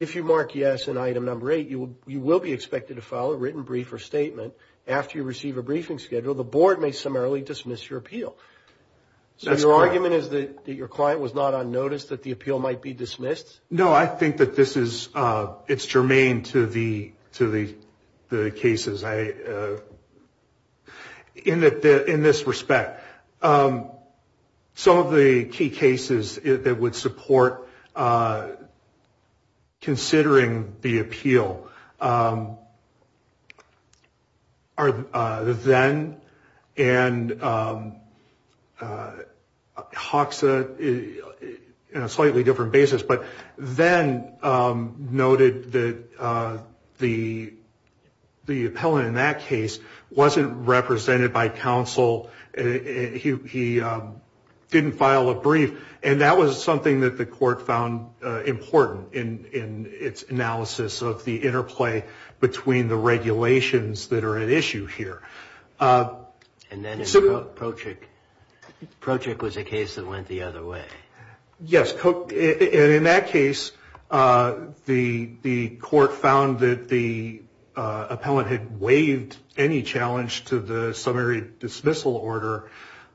If you mark yes in item number 8, you will be expected to file a written brief or statement. After you receive a briefing schedule, the board may summarily dismiss your appeal. So your argument is that your client was not on notice that the appeal might be dismissed? No, I think that this is germane to the cases in this respect. Some of the key cases that would support considering the appeal are the Zenn and Hoxa in a slightly different basis. But then noted that the appellant in that case wasn't represented by counsel, he didn't file a brief. And that was something that the court found important in its analysis of the interplay between the regulations that are at issue here. And then in Prochik, Prochik was a case that went the other way. Yes, and in that case, the court found that the appellant had waived any challenge to the summary dismissal order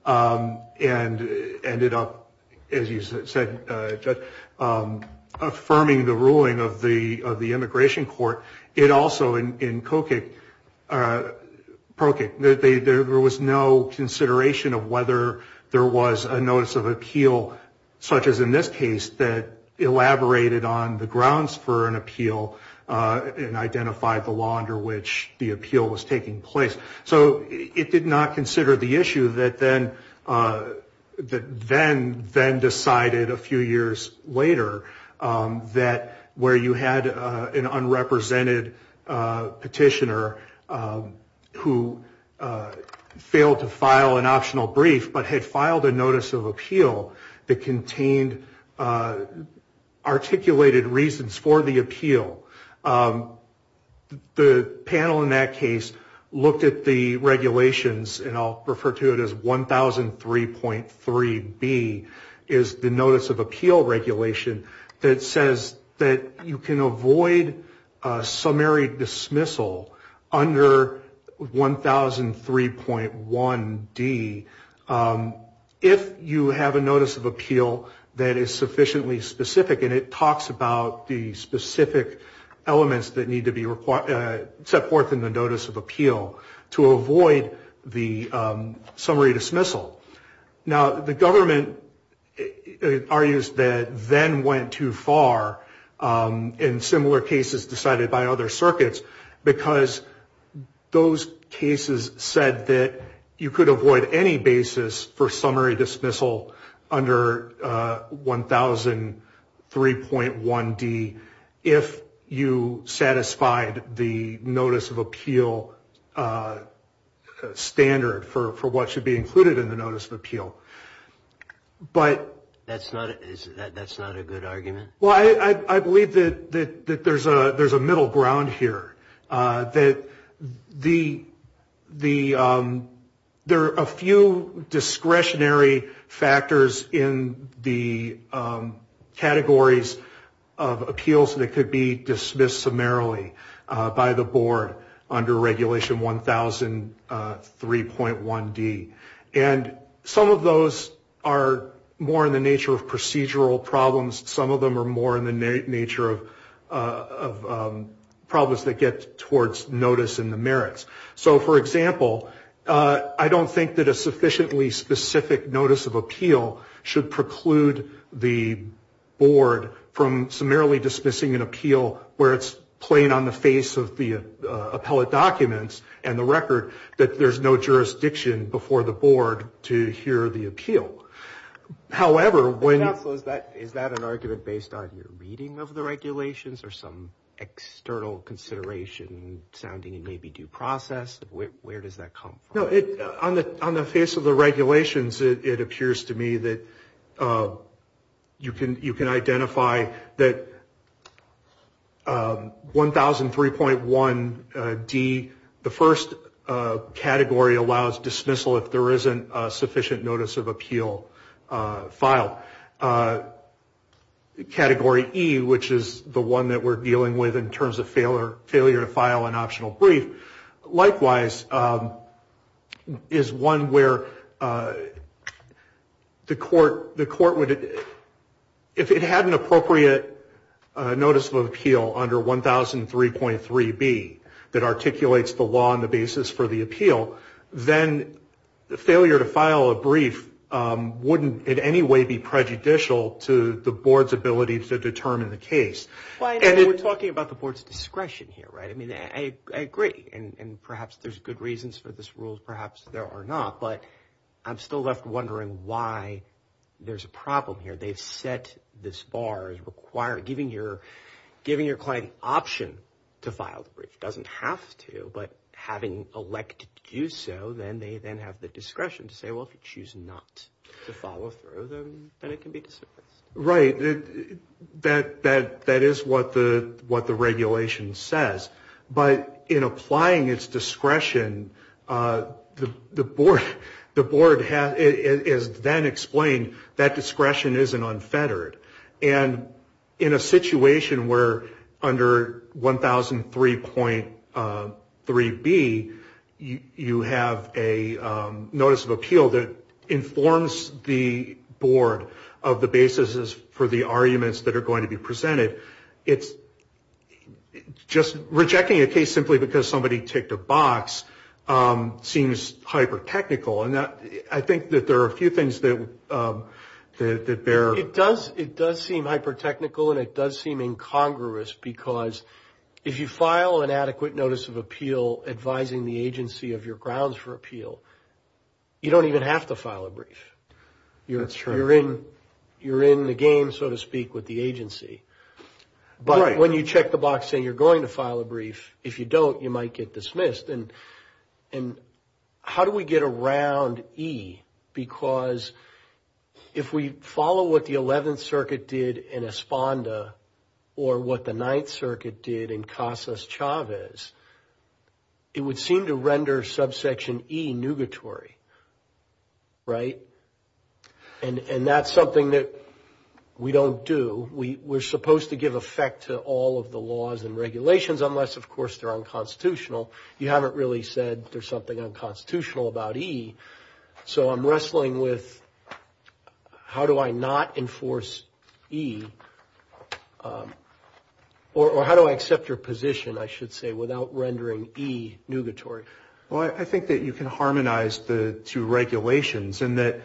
and ended up, as you said, affirming the ruling of the immigration court. It also, in Prochik, there was no consideration of whether there was a notice of appeal, such as in this case, that elaborated on the grounds for an appeal and identified the law under which the appeal was taking place. So it did not consider the issue that then decided a few years later that where you had an unrepresented petitioner who failed to file an optional brief but had filed a notice of appeal that contained articulated reasons for the appeal, the panel in that case looked at the regulations, and I'll refer to it as 1003.3B, is the notice of appeal regulation that says that you can avoid summary dismissal under 1003.1D if you have a notice of appeal that is sufficiently specific and it talks about the specific elements that need to be set forth in the notice of appeal to avoid the summary dismissal. Now, the government argues that then went too far in similar cases decided by other circuits because those cases said that you could avoid any basis for summary dismissal under 1003.1D if you satisfied the notice of appeal standard for what should be included in the notice of appeal. But... That's not a good argument? Well, I believe that there's a middle ground here, that there are a few discretionary factors in the categories of appeals that could be dismissed summarily by the board under regulation 1003.1D. And some of those are more in the nature of procedural problems. Some of them are more in the nature of problems that get towards notice and the merits. So, for example, I don't think that a sufficiently specific notice of appeal should preclude the board from summarily dismissing an appeal where it's plain on the face of the appellate documents and the record that there's no jurisdiction before the board to hear the appeal. However, when... Counsel, is that an argument based on your reading of the regulations or some external consideration sounding and maybe due process? Where does that come from? No, on the face of the regulations, it appears to me that you can identify that 1003.1D, the first category allows dismissal if there isn't a sufficient notice of appeal filed. Category E, which is the one that we're dealing with in terms of failure to file an optional brief, Likewise, is one where the court would... If it had an appropriate notice of appeal under 1003.3B that articulates the law and the basis for the appeal, then the failure to file a brief wouldn't in any way be prejudicial to the board's ability to determine the case. And we're talking about the board's discretion here, right? I mean, I agree, and perhaps there's good reasons for this rule, perhaps there are not, but I'm still left wondering why there's a problem here. They've set this bar as requiring, giving your client an option to file the brief. It doesn't have to, but having elected to do so, then they then have the discretion to say, well, if you choose not to follow through, then it can be dismissed. Right, that is what the regulation says. But in applying its discretion, the board has then explained that discretion isn't unfettered. And in a situation where under 1003.3B you have a notice of appeal that informs the board of the basis for the arguments that are going to be presented, it's just rejecting a case simply because somebody ticked a box seems hyper-technical. And I think that there are a few things that bear... It does seem hyper-technical and it does seem incongruous because if you file an adequate notice of appeal advising the agency of your grounds for appeal, you don't even have to file a brief. You're in the game, so to speak, with the agency. But when you check the box saying you're going to file a brief, if you don't, you might get dismissed. And how do we get around E? Because if we follow what the 11th Circuit did in Esponda or what the 9th Circuit did in Casas Chavez, it would seem to render subsection E nugatory, right? And that's something that we don't do. We're supposed to give effect to all of the laws and regulations unless, of course, they're unconstitutional. You haven't really said there's something unconstitutional about E. So I'm wrestling with how do I not enforce E or how do I accept your position, I should say, without rendering E nugatory. Well, I think that you can harmonize the two regulations in that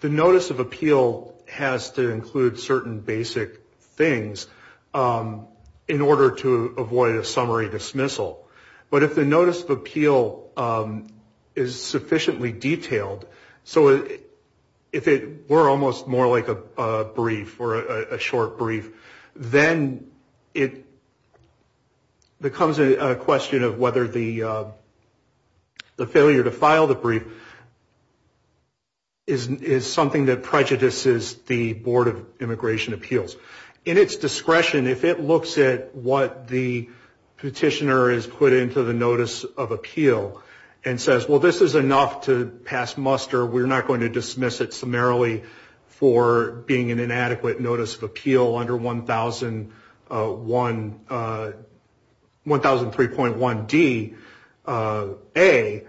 the notice of appeal has to include certain basic things in order to avoid a summary dismissal. But if the notice of appeal is sufficiently detailed, so if it were almost more like a brief or a short brief, then it becomes a question of whether the failure to file the brief is something that prejudices the Board of Immigration Appeals. In its discretion, if it looks at what the petitioner has put into the notice of appeal and says, well, this is enough to pass muster, we're not going to dismiss it summarily for being an inadequate notice of appeal under 1003.1D, A,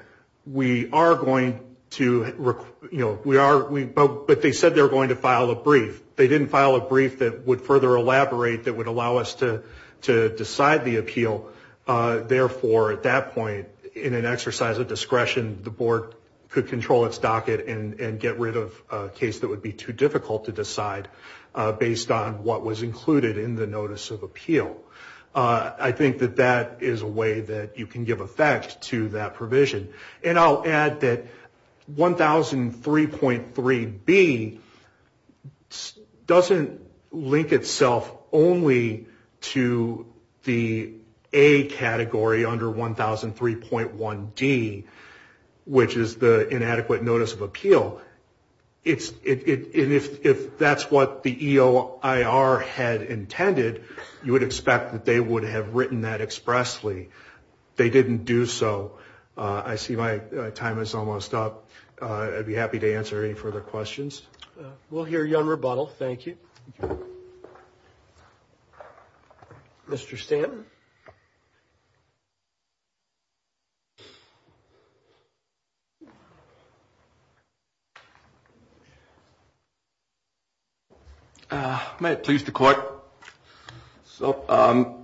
we are going to, you know, we are, but they said they were going to file a brief. They didn't file a brief that would further elaborate, that would allow us to decide the appeal. Therefore, at that point, in an exercise of discretion, the Board could control its docket and get rid of a case that would be too difficult to decide based on what was included in the notice of appeal. I think that that is a way that you can give effect to that provision. And I'll add that 1003.3B doesn't link itself only to the A category under 1003.1D, which is the inadequate notice of appeal. If that's what the EOIR had intended, you would expect that they would have written that expressly. They didn't do so. I see my time is almost up. I'd be happy to answer any further questions. We'll hear you on rebuttal. Thank you. Mr. Stanton? May it please the Court. So,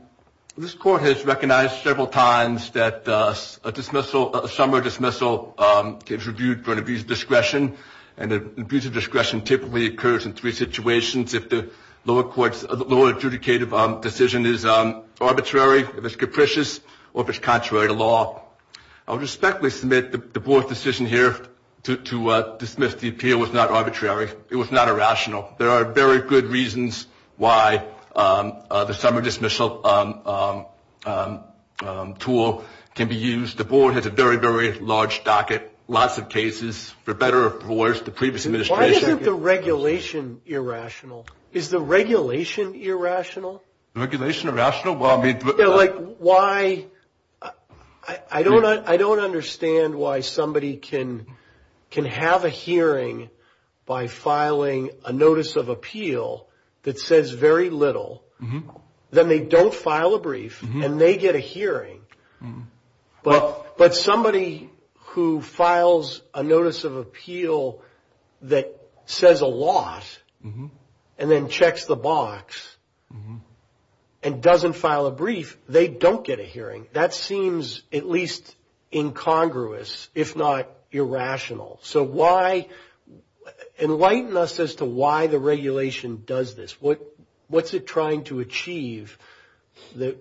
this Court has recognized several times that a dismissal, a summary dismissal, is reviewed for an abuse of discretion. And an abuse of discretion typically occurs in three situations. If the lower court's, lower adjudicative decision is arbitrary, if the lower court's adjudicative decision is arbitrary, if it's capricious, or if it's contrary to law. I respectfully submit the Board's decision here to dismiss the appeal was not arbitrary. It was not irrational. There are very good reasons why the summary dismissal tool can be used. The Board has a very, very large docket, lots of cases. For better or for worse, the previous administration... Why isn't the regulation irrational? Is the regulation irrational? The regulation irrational? Well, I mean... Yeah, like, why... I don't understand why somebody can have a hearing by filing a notice of appeal that says very little. Then they don't file a brief, and they get a hearing. But somebody who files a notice of appeal that says a lot, and then checks the box, and doesn't file a brief, they don't get a hearing. That seems at least incongruous, if not irrational. So why... Enlighten us as to why the regulation does this. What's it trying to achieve that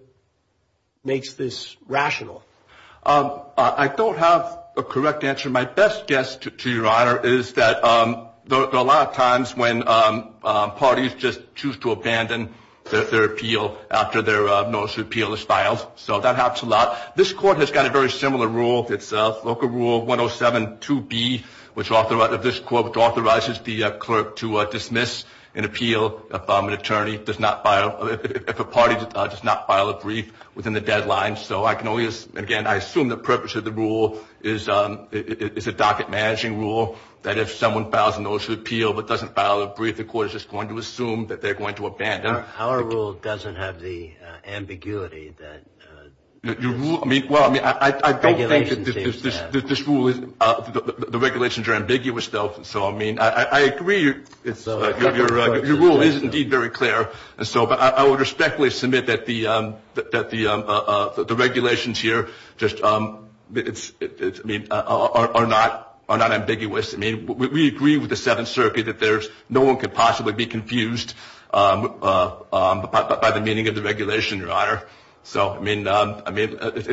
makes this rational? I don't have a correct answer. My best guess, to your honor, is that a lot of times when parties just choose to abandon their appeal after their notice of appeal is filed. So that happens a lot. This court has got a very similar rule. It's Local Rule 107.2b of this court, which authorizes the clerk to dismiss an appeal if a party does not file a brief within the deadline. So I can only... Again, I assume the purpose of the rule is a docket-managing rule, that if someone files a notice of appeal but doesn't file a brief, the court is just going to assume that they're going to abandon. Our rule doesn't have the ambiguity that... I don't think that this rule... The regulations are ambiguous, though. I agree your rule is indeed very clear. I would respectfully submit that the regulations here are not ambiguous. We agree with the Seventh Circuit that no one could possibly be confused by the meaning of the regulation, your honor. It's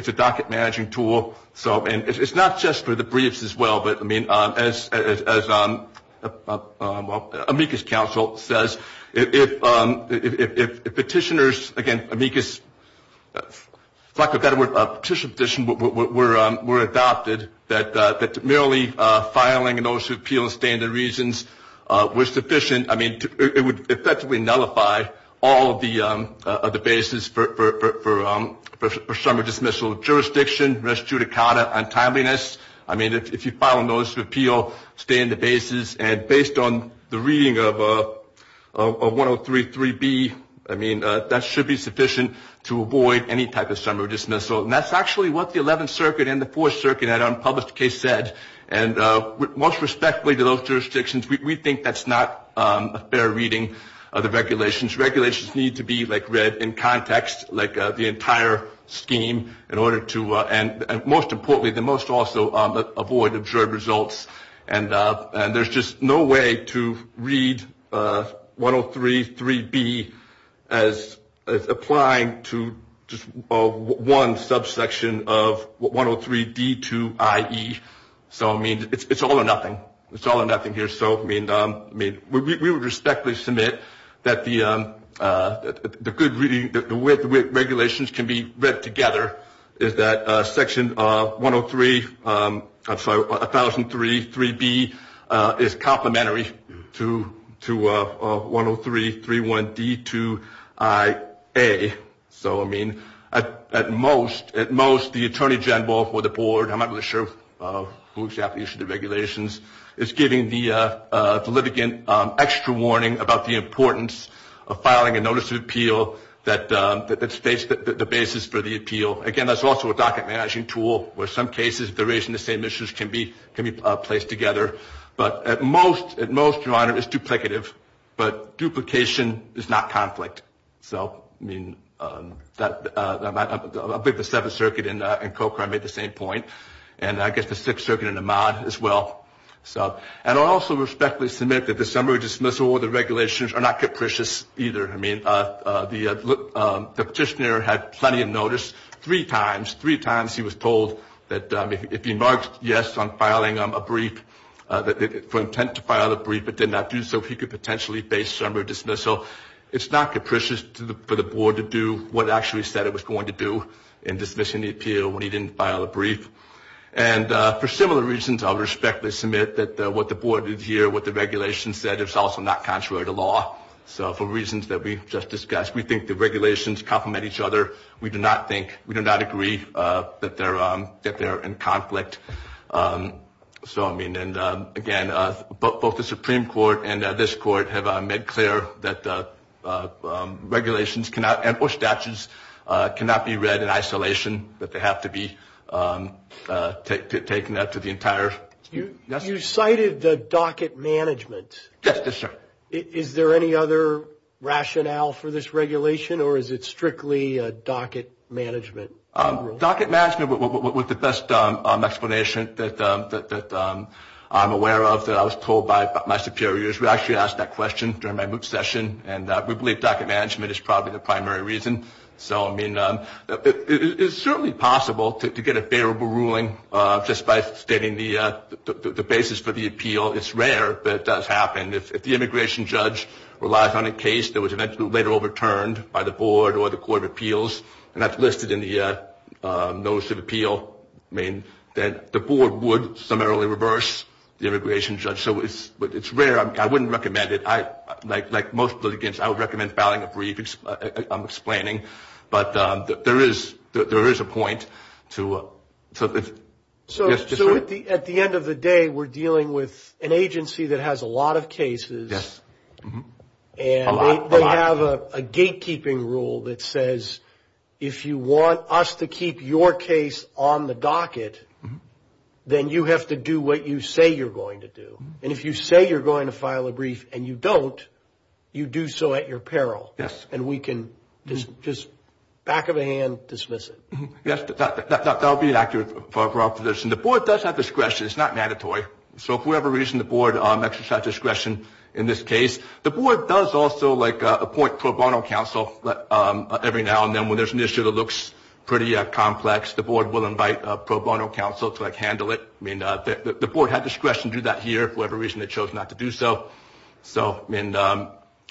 a docket-managing tool. It's not just for the briefs as well, but as amicus counsel says, if petitioners... If you file a notice of appeal, stay in the basis, and based on the reading of 103.3b, I mean, that should be sufficient to avoid any type of summary dismissal. And that's actually what the Eleventh Circuit and the Fourth Circuit at unpublished case said. And most respectfully to those jurisdictions, we think that's not a fair reading of the regulations. Regulations need to be read in context, like the entire scheme, in order to... And most importantly, the most also, avoid observed results. And there's just no way to read 103.3b as applying to just one subsection of 103.d.2.i.e. So, I mean, it's all or nothing. It's all or nothing here. We would respectfully submit that the way the regulations can be read together is that section 103.3b is complementary to 103.3.1.d.2.i.a. So, I mean, at most, the Attorney General or the Board, I'm not really sure who exactly issued the regulations, is giving the litigant extra warning about the importance of filing a notice of appeal that states the basis for the appeal. Again, that's also a docket-managing tool where some cases, if they're raising the same issues, can be placed together. But at most, Your Honor, it's duplicative, but duplication is not conflict. So, I mean, I think the Seventh Circuit in Cochrane made the same point, and I guess the Sixth Circuit in Ahmad as well. And I'll also respectfully submit that the summary dismissal or the regulations are not capricious either. I mean, the Petitioner had plenty of notice. Three times, three times, he was told that if he marked yes on filing a brief, for intent to file a brief, but did not do so, he could potentially face summary dismissal. It's not capricious for the Board to do what it actually said it was going to do in dismissing the appeal when he didn't file a brief. And for similar reasons, I'll respectfully submit that what the Board did here, what the regulations said, is also not contrary to law. So, for reasons that we just discussed, we think the regulations complement each other. We do not think, we do not agree that they're in conflict. So, I mean, and again, both the Supreme Court and this Court have made clear that regulations cannot, or statutes cannot be read in isolation, that they have to be taken up to the entire. You cited the docket management. Yes, yes, sir. Is there any other rationale for this regulation, or is it strictly docket management? Docket management, with the best explanation that I'm aware of, that I was told by my superiors, we actually asked that question during my MOOC session, and we believe docket management is probably the primary reason. So, I mean, it's certainly possible to get a favorable ruling just by stating the basis for the appeal. It's rare, but it does happen. If the immigration judge relies on a case that was eventually later overturned by the Board or the Court of Appeals, and that's listed in the Notice of Appeal, I mean, that the Board would summarily reverse the immigration judge. So, it's rare. I wouldn't recommend it. Like most litigants, I would recommend filing a brief. I'm explaining, but there is a point to it. So, at the end of the day, we're dealing with an agency that has a lot of cases. Yes, a lot. And they have a gatekeeping rule that says if you want us to keep your case on the docket, then you have to do what you say you're going to do. And if you say you're going to file a brief and you don't, you do so at your peril. Yes. And we can just back of a hand dismiss it. Yes, that would be accurate for our proposition. The Board does have discretion. It's not mandatory. So, if we have a reason, the Board exercises discretion in this case. The Board does also, like, appoint pro bono counsel every now and then when there's an issue that looks pretty complex. The Board will invite pro bono counsel to, like, handle it. I mean, the Board had discretion to do that here for whatever reason they chose not to do so. So, I mean,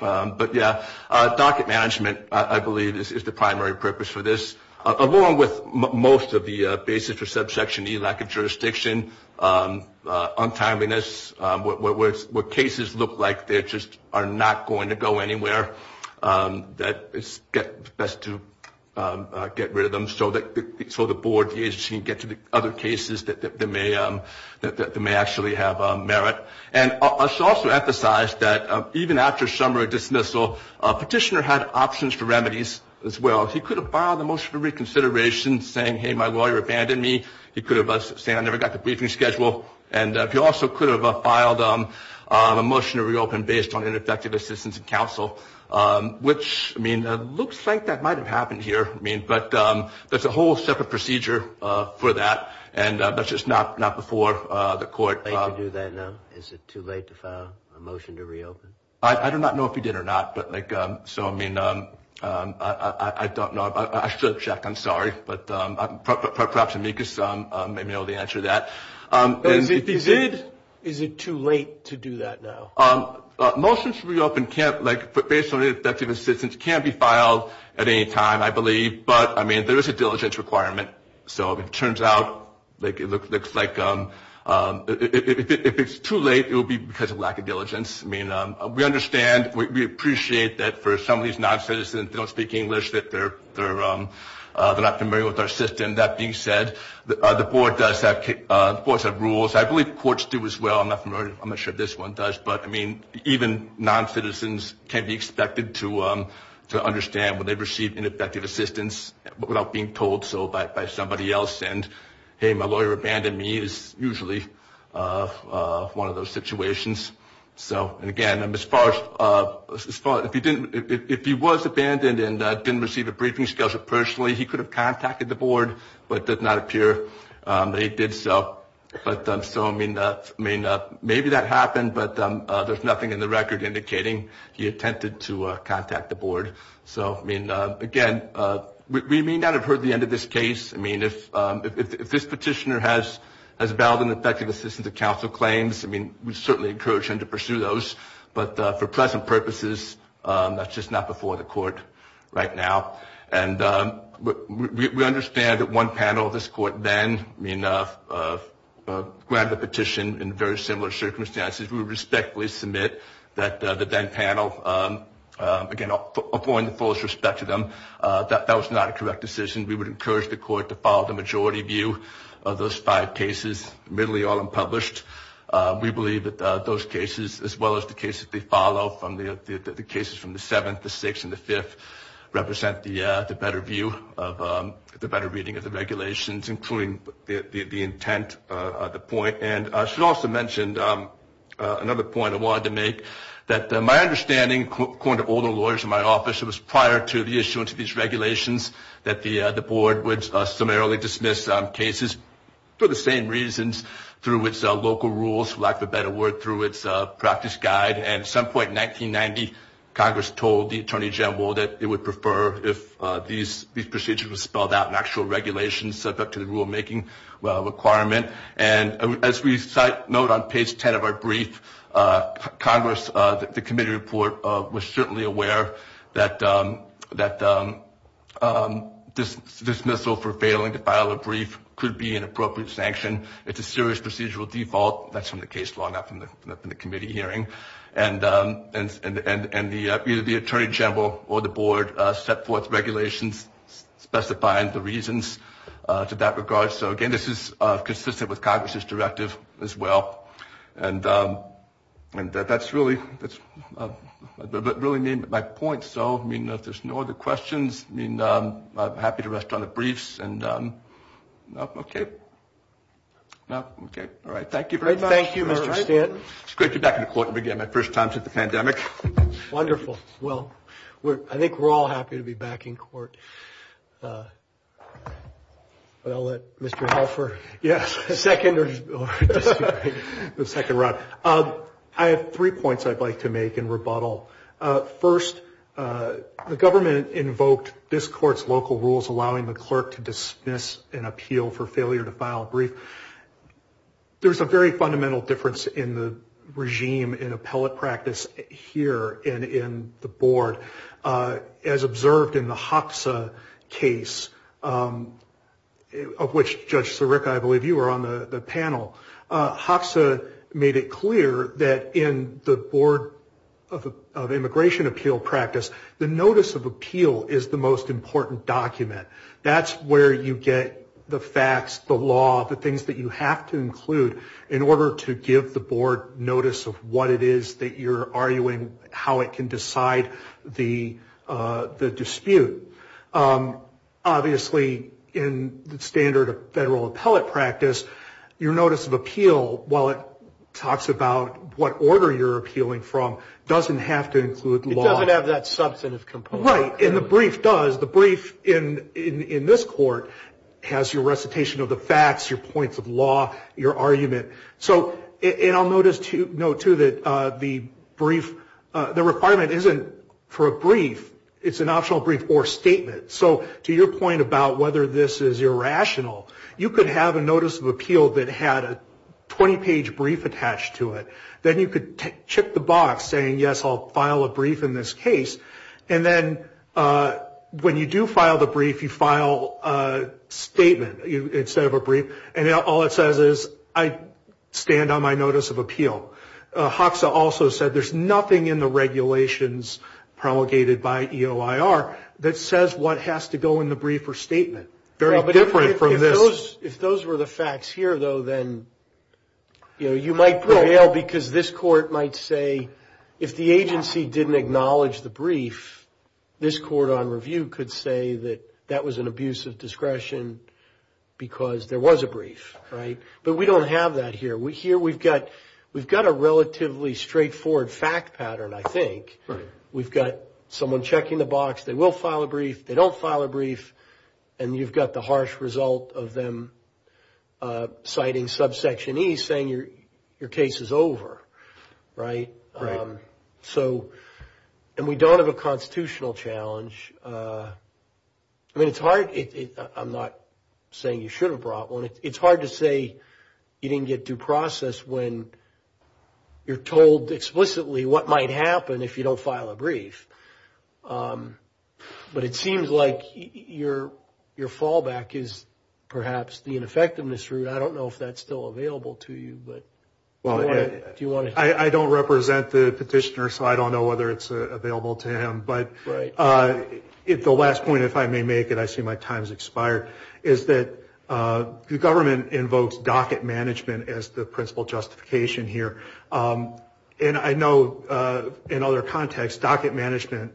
but, yes, docket management, I believe, is the primary purpose for this, along with most of the basis for subsection E, lack of jurisdiction, untimeliness, what cases look like that just are not going to go anywhere, that it's best to get rid of them so the Board, the agency can get to the other cases that may actually have merit. And I should also emphasize that even after summary dismissal, a petitioner had options for remedies as well. He could have borrowed the motion for reconsideration, saying, hey, my lawyer abandoned me. He could have said, I never got the briefing schedule. And he also could have filed a motion to reopen based on ineffective assistance and counsel, which, I mean, it looks like that might have happened here. I mean, but there's a whole separate procedure for that. And that's just not before the court. Late to do that now? Is it too late to file a motion to reopen? I do not know if he did or not. But, like, so, I mean, I don't know. I should have checked. I'm sorry. But perhaps Amicus may be able to answer that. Is it too late to do that now? Motions to reopen can't, like, based on ineffective assistance, can't be filed at any time, I believe. But, I mean, there is a diligence requirement. So it turns out, like, it looks like if it's too late, it will be because of lack of diligence. I mean, we understand, we appreciate that for some of these non-citizens that don't speak English, that they're not familiar with our system. That being said, the board does have rules. I believe courts do as well. I'm not sure if this one does. But, I mean, even non-citizens can be expected to understand when they receive ineffective assistance without being told so by somebody else. And, hey, my lawyer abandoned me is usually one of those situations. And, again, if he was abandoned and didn't receive a briefing schedule personally, he could have contacted the board. But it did not appear that he did so. So, I mean, maybe that happened. But there's nothing in the record indicating he attempted to contact the board. So, I mean, again, we may not have heard the end of this case. I mean, if this petitioner has valid and effective assistance of counsel claims, I mean, we certainly encourage him to pursue those. But for present purposes, that's just not before the court right now. And we understand that one panel of this court then, I mean, granted a petition in very similar circumstances, we would respectfully submit that the then panel, again, affording the fullest respect to them, that that was not a correct decision. We would encourage the court to follow the majority view of those five cases. Admittedly, all unpublished. We believe that those cases, as well as the cases they follow from the cases from the 7th, the 6th, and the 5th, represent the better view of the better reading of the regulations, including the intent, the point. And I should also mention another point I wanted to make, that my understanding, according to all the lawyers in my office, it was prior to the issuance of these regulations that the board would summarily dismiss cases for the same reasons, through its local rules, for lack of a better word, through its practice guide. And at some point in 1990, Congress told the Attorney General that it would prefer if these procedures were spelled out in actual regulations subject to the rulemaking requirement. And as we note on page 10 of our brief, Congress, the committee report, was certainly aware that dismissal for failing to file a brief could be an appropriate sanction. It's a serious procedural default. That's from the case law, not from the committee hearing. And either the Attorney General or the board set forth regulations specifying the reasons to that regard. So, again, this is consistent with Congress's directive as well. And that's really my point. So, I mean, if there's no other questions, I'm happy to rest on the briefs. All right, thank you very much. Thank you, Mr. Stanton. It's great to be back in court again, my first time since the pandemic. Wonderful. Well, I think we're all happy to be back in court. But I'll let Mr. Helfer. Yes. The second round. I have three points I'd like to make in rebuttal. First, the government invoked this court's local rules allowing the clerk to dismiss an appeal for failure to file a brief. There's a very fundamental difference in the regime in appellate practice here and in the board. As observed in the HOXA case, of which Judge Sirica, I believe you were on the panel, HOXA made it clear that in the Board of Immigration Appeal practice, the notice of appeal is the most important document. That's where you get the facts, the law, the things that you have to include in order to give the board notice of what it is that you're arguing, how it can decide the dispute. Obviously, in the standard of federal appellate practice, your notice of appeal, while it talks about what order you're appealing from, doesn't have to include law. It doesn't have that substantive component. Right. And the brief does. The brief in this court has your recitation of the facts, your points of law, your argument. And I'll note, too, that the brief, the requirement isn't for a brief. It's an optional brief or statement. So to your point about whether this is irrational, you could have a notice of appeal that had a 20-page brief attached to it. Then you could check the box saying, yes, I'll file a brief in this case. And then when you do file the brief, you file a statement instead of a brief. And all it says is, I stand on my notice of appeal. HOXA also said there's nothing in the regulations promulgated by EOIR that says what has to go in the brief or statement. Very different from this. If those were the facts here, though, then you might prevail because this court might say, if the agency didn't acknowledge the brief, this court on review could say that that was an abuse of discretion because there was a brief, right? But we don't have that here. Here we've got a relatively straightforward fact pattern, I think. We've got someone checking the box. They will file a brief. They don't file a brief. And you've got the harsh result of them citing subsection E saying your case is over, right? Right. And we don't have a constitutional challenge. I mean, it's hard. I'm not saying you should have brought one. It's hard to say you didn't get due process when you're told explicitly what might happen if you don't file a brief. But it seems like your fallback is perhaps the ineffectiveness route. I don't know if that's still available to you. I don't represent the petitioner, so I don't know whether it's available to him. But the last point, if I may make it, I see my time has expired, is that the government invokes docket management as the principal justification here. And I know in other contexts docket management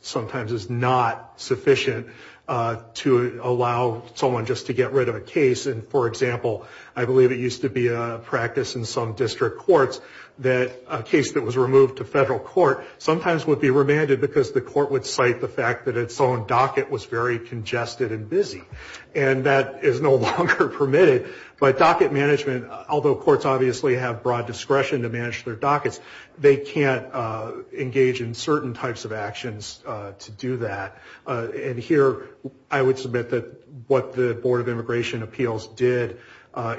sometimes is not sufficient to allow someone just to get rid of a case. And, for example, I believe it used to be a practice in some district courts that a case that was removed to federal court sometimes would be remanded because the court would cite the fact that its own docket was very congested and busy. And that is no longer permitted. But docket management, although courts obviously have broad discretion to manage their dockets, they can't engage in certain types of actions to do that. And here I would submit that what the Board of Immigration Appeals did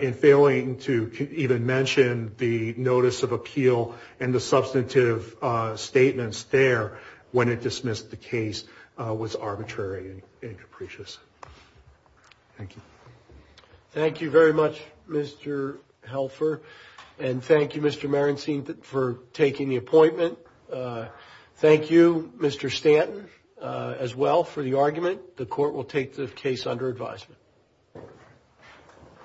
in failing to even mention the notice of appeal and the substantive statements there when it dismissed the case was arbitrary and capricious. Thank you. Thank you very much, Mr. Helfer. And thank you, Mr. Marencine, for taking the appointment. Thank you, Mr. Stanton, as well, for the argument. The court will take the case under advisement.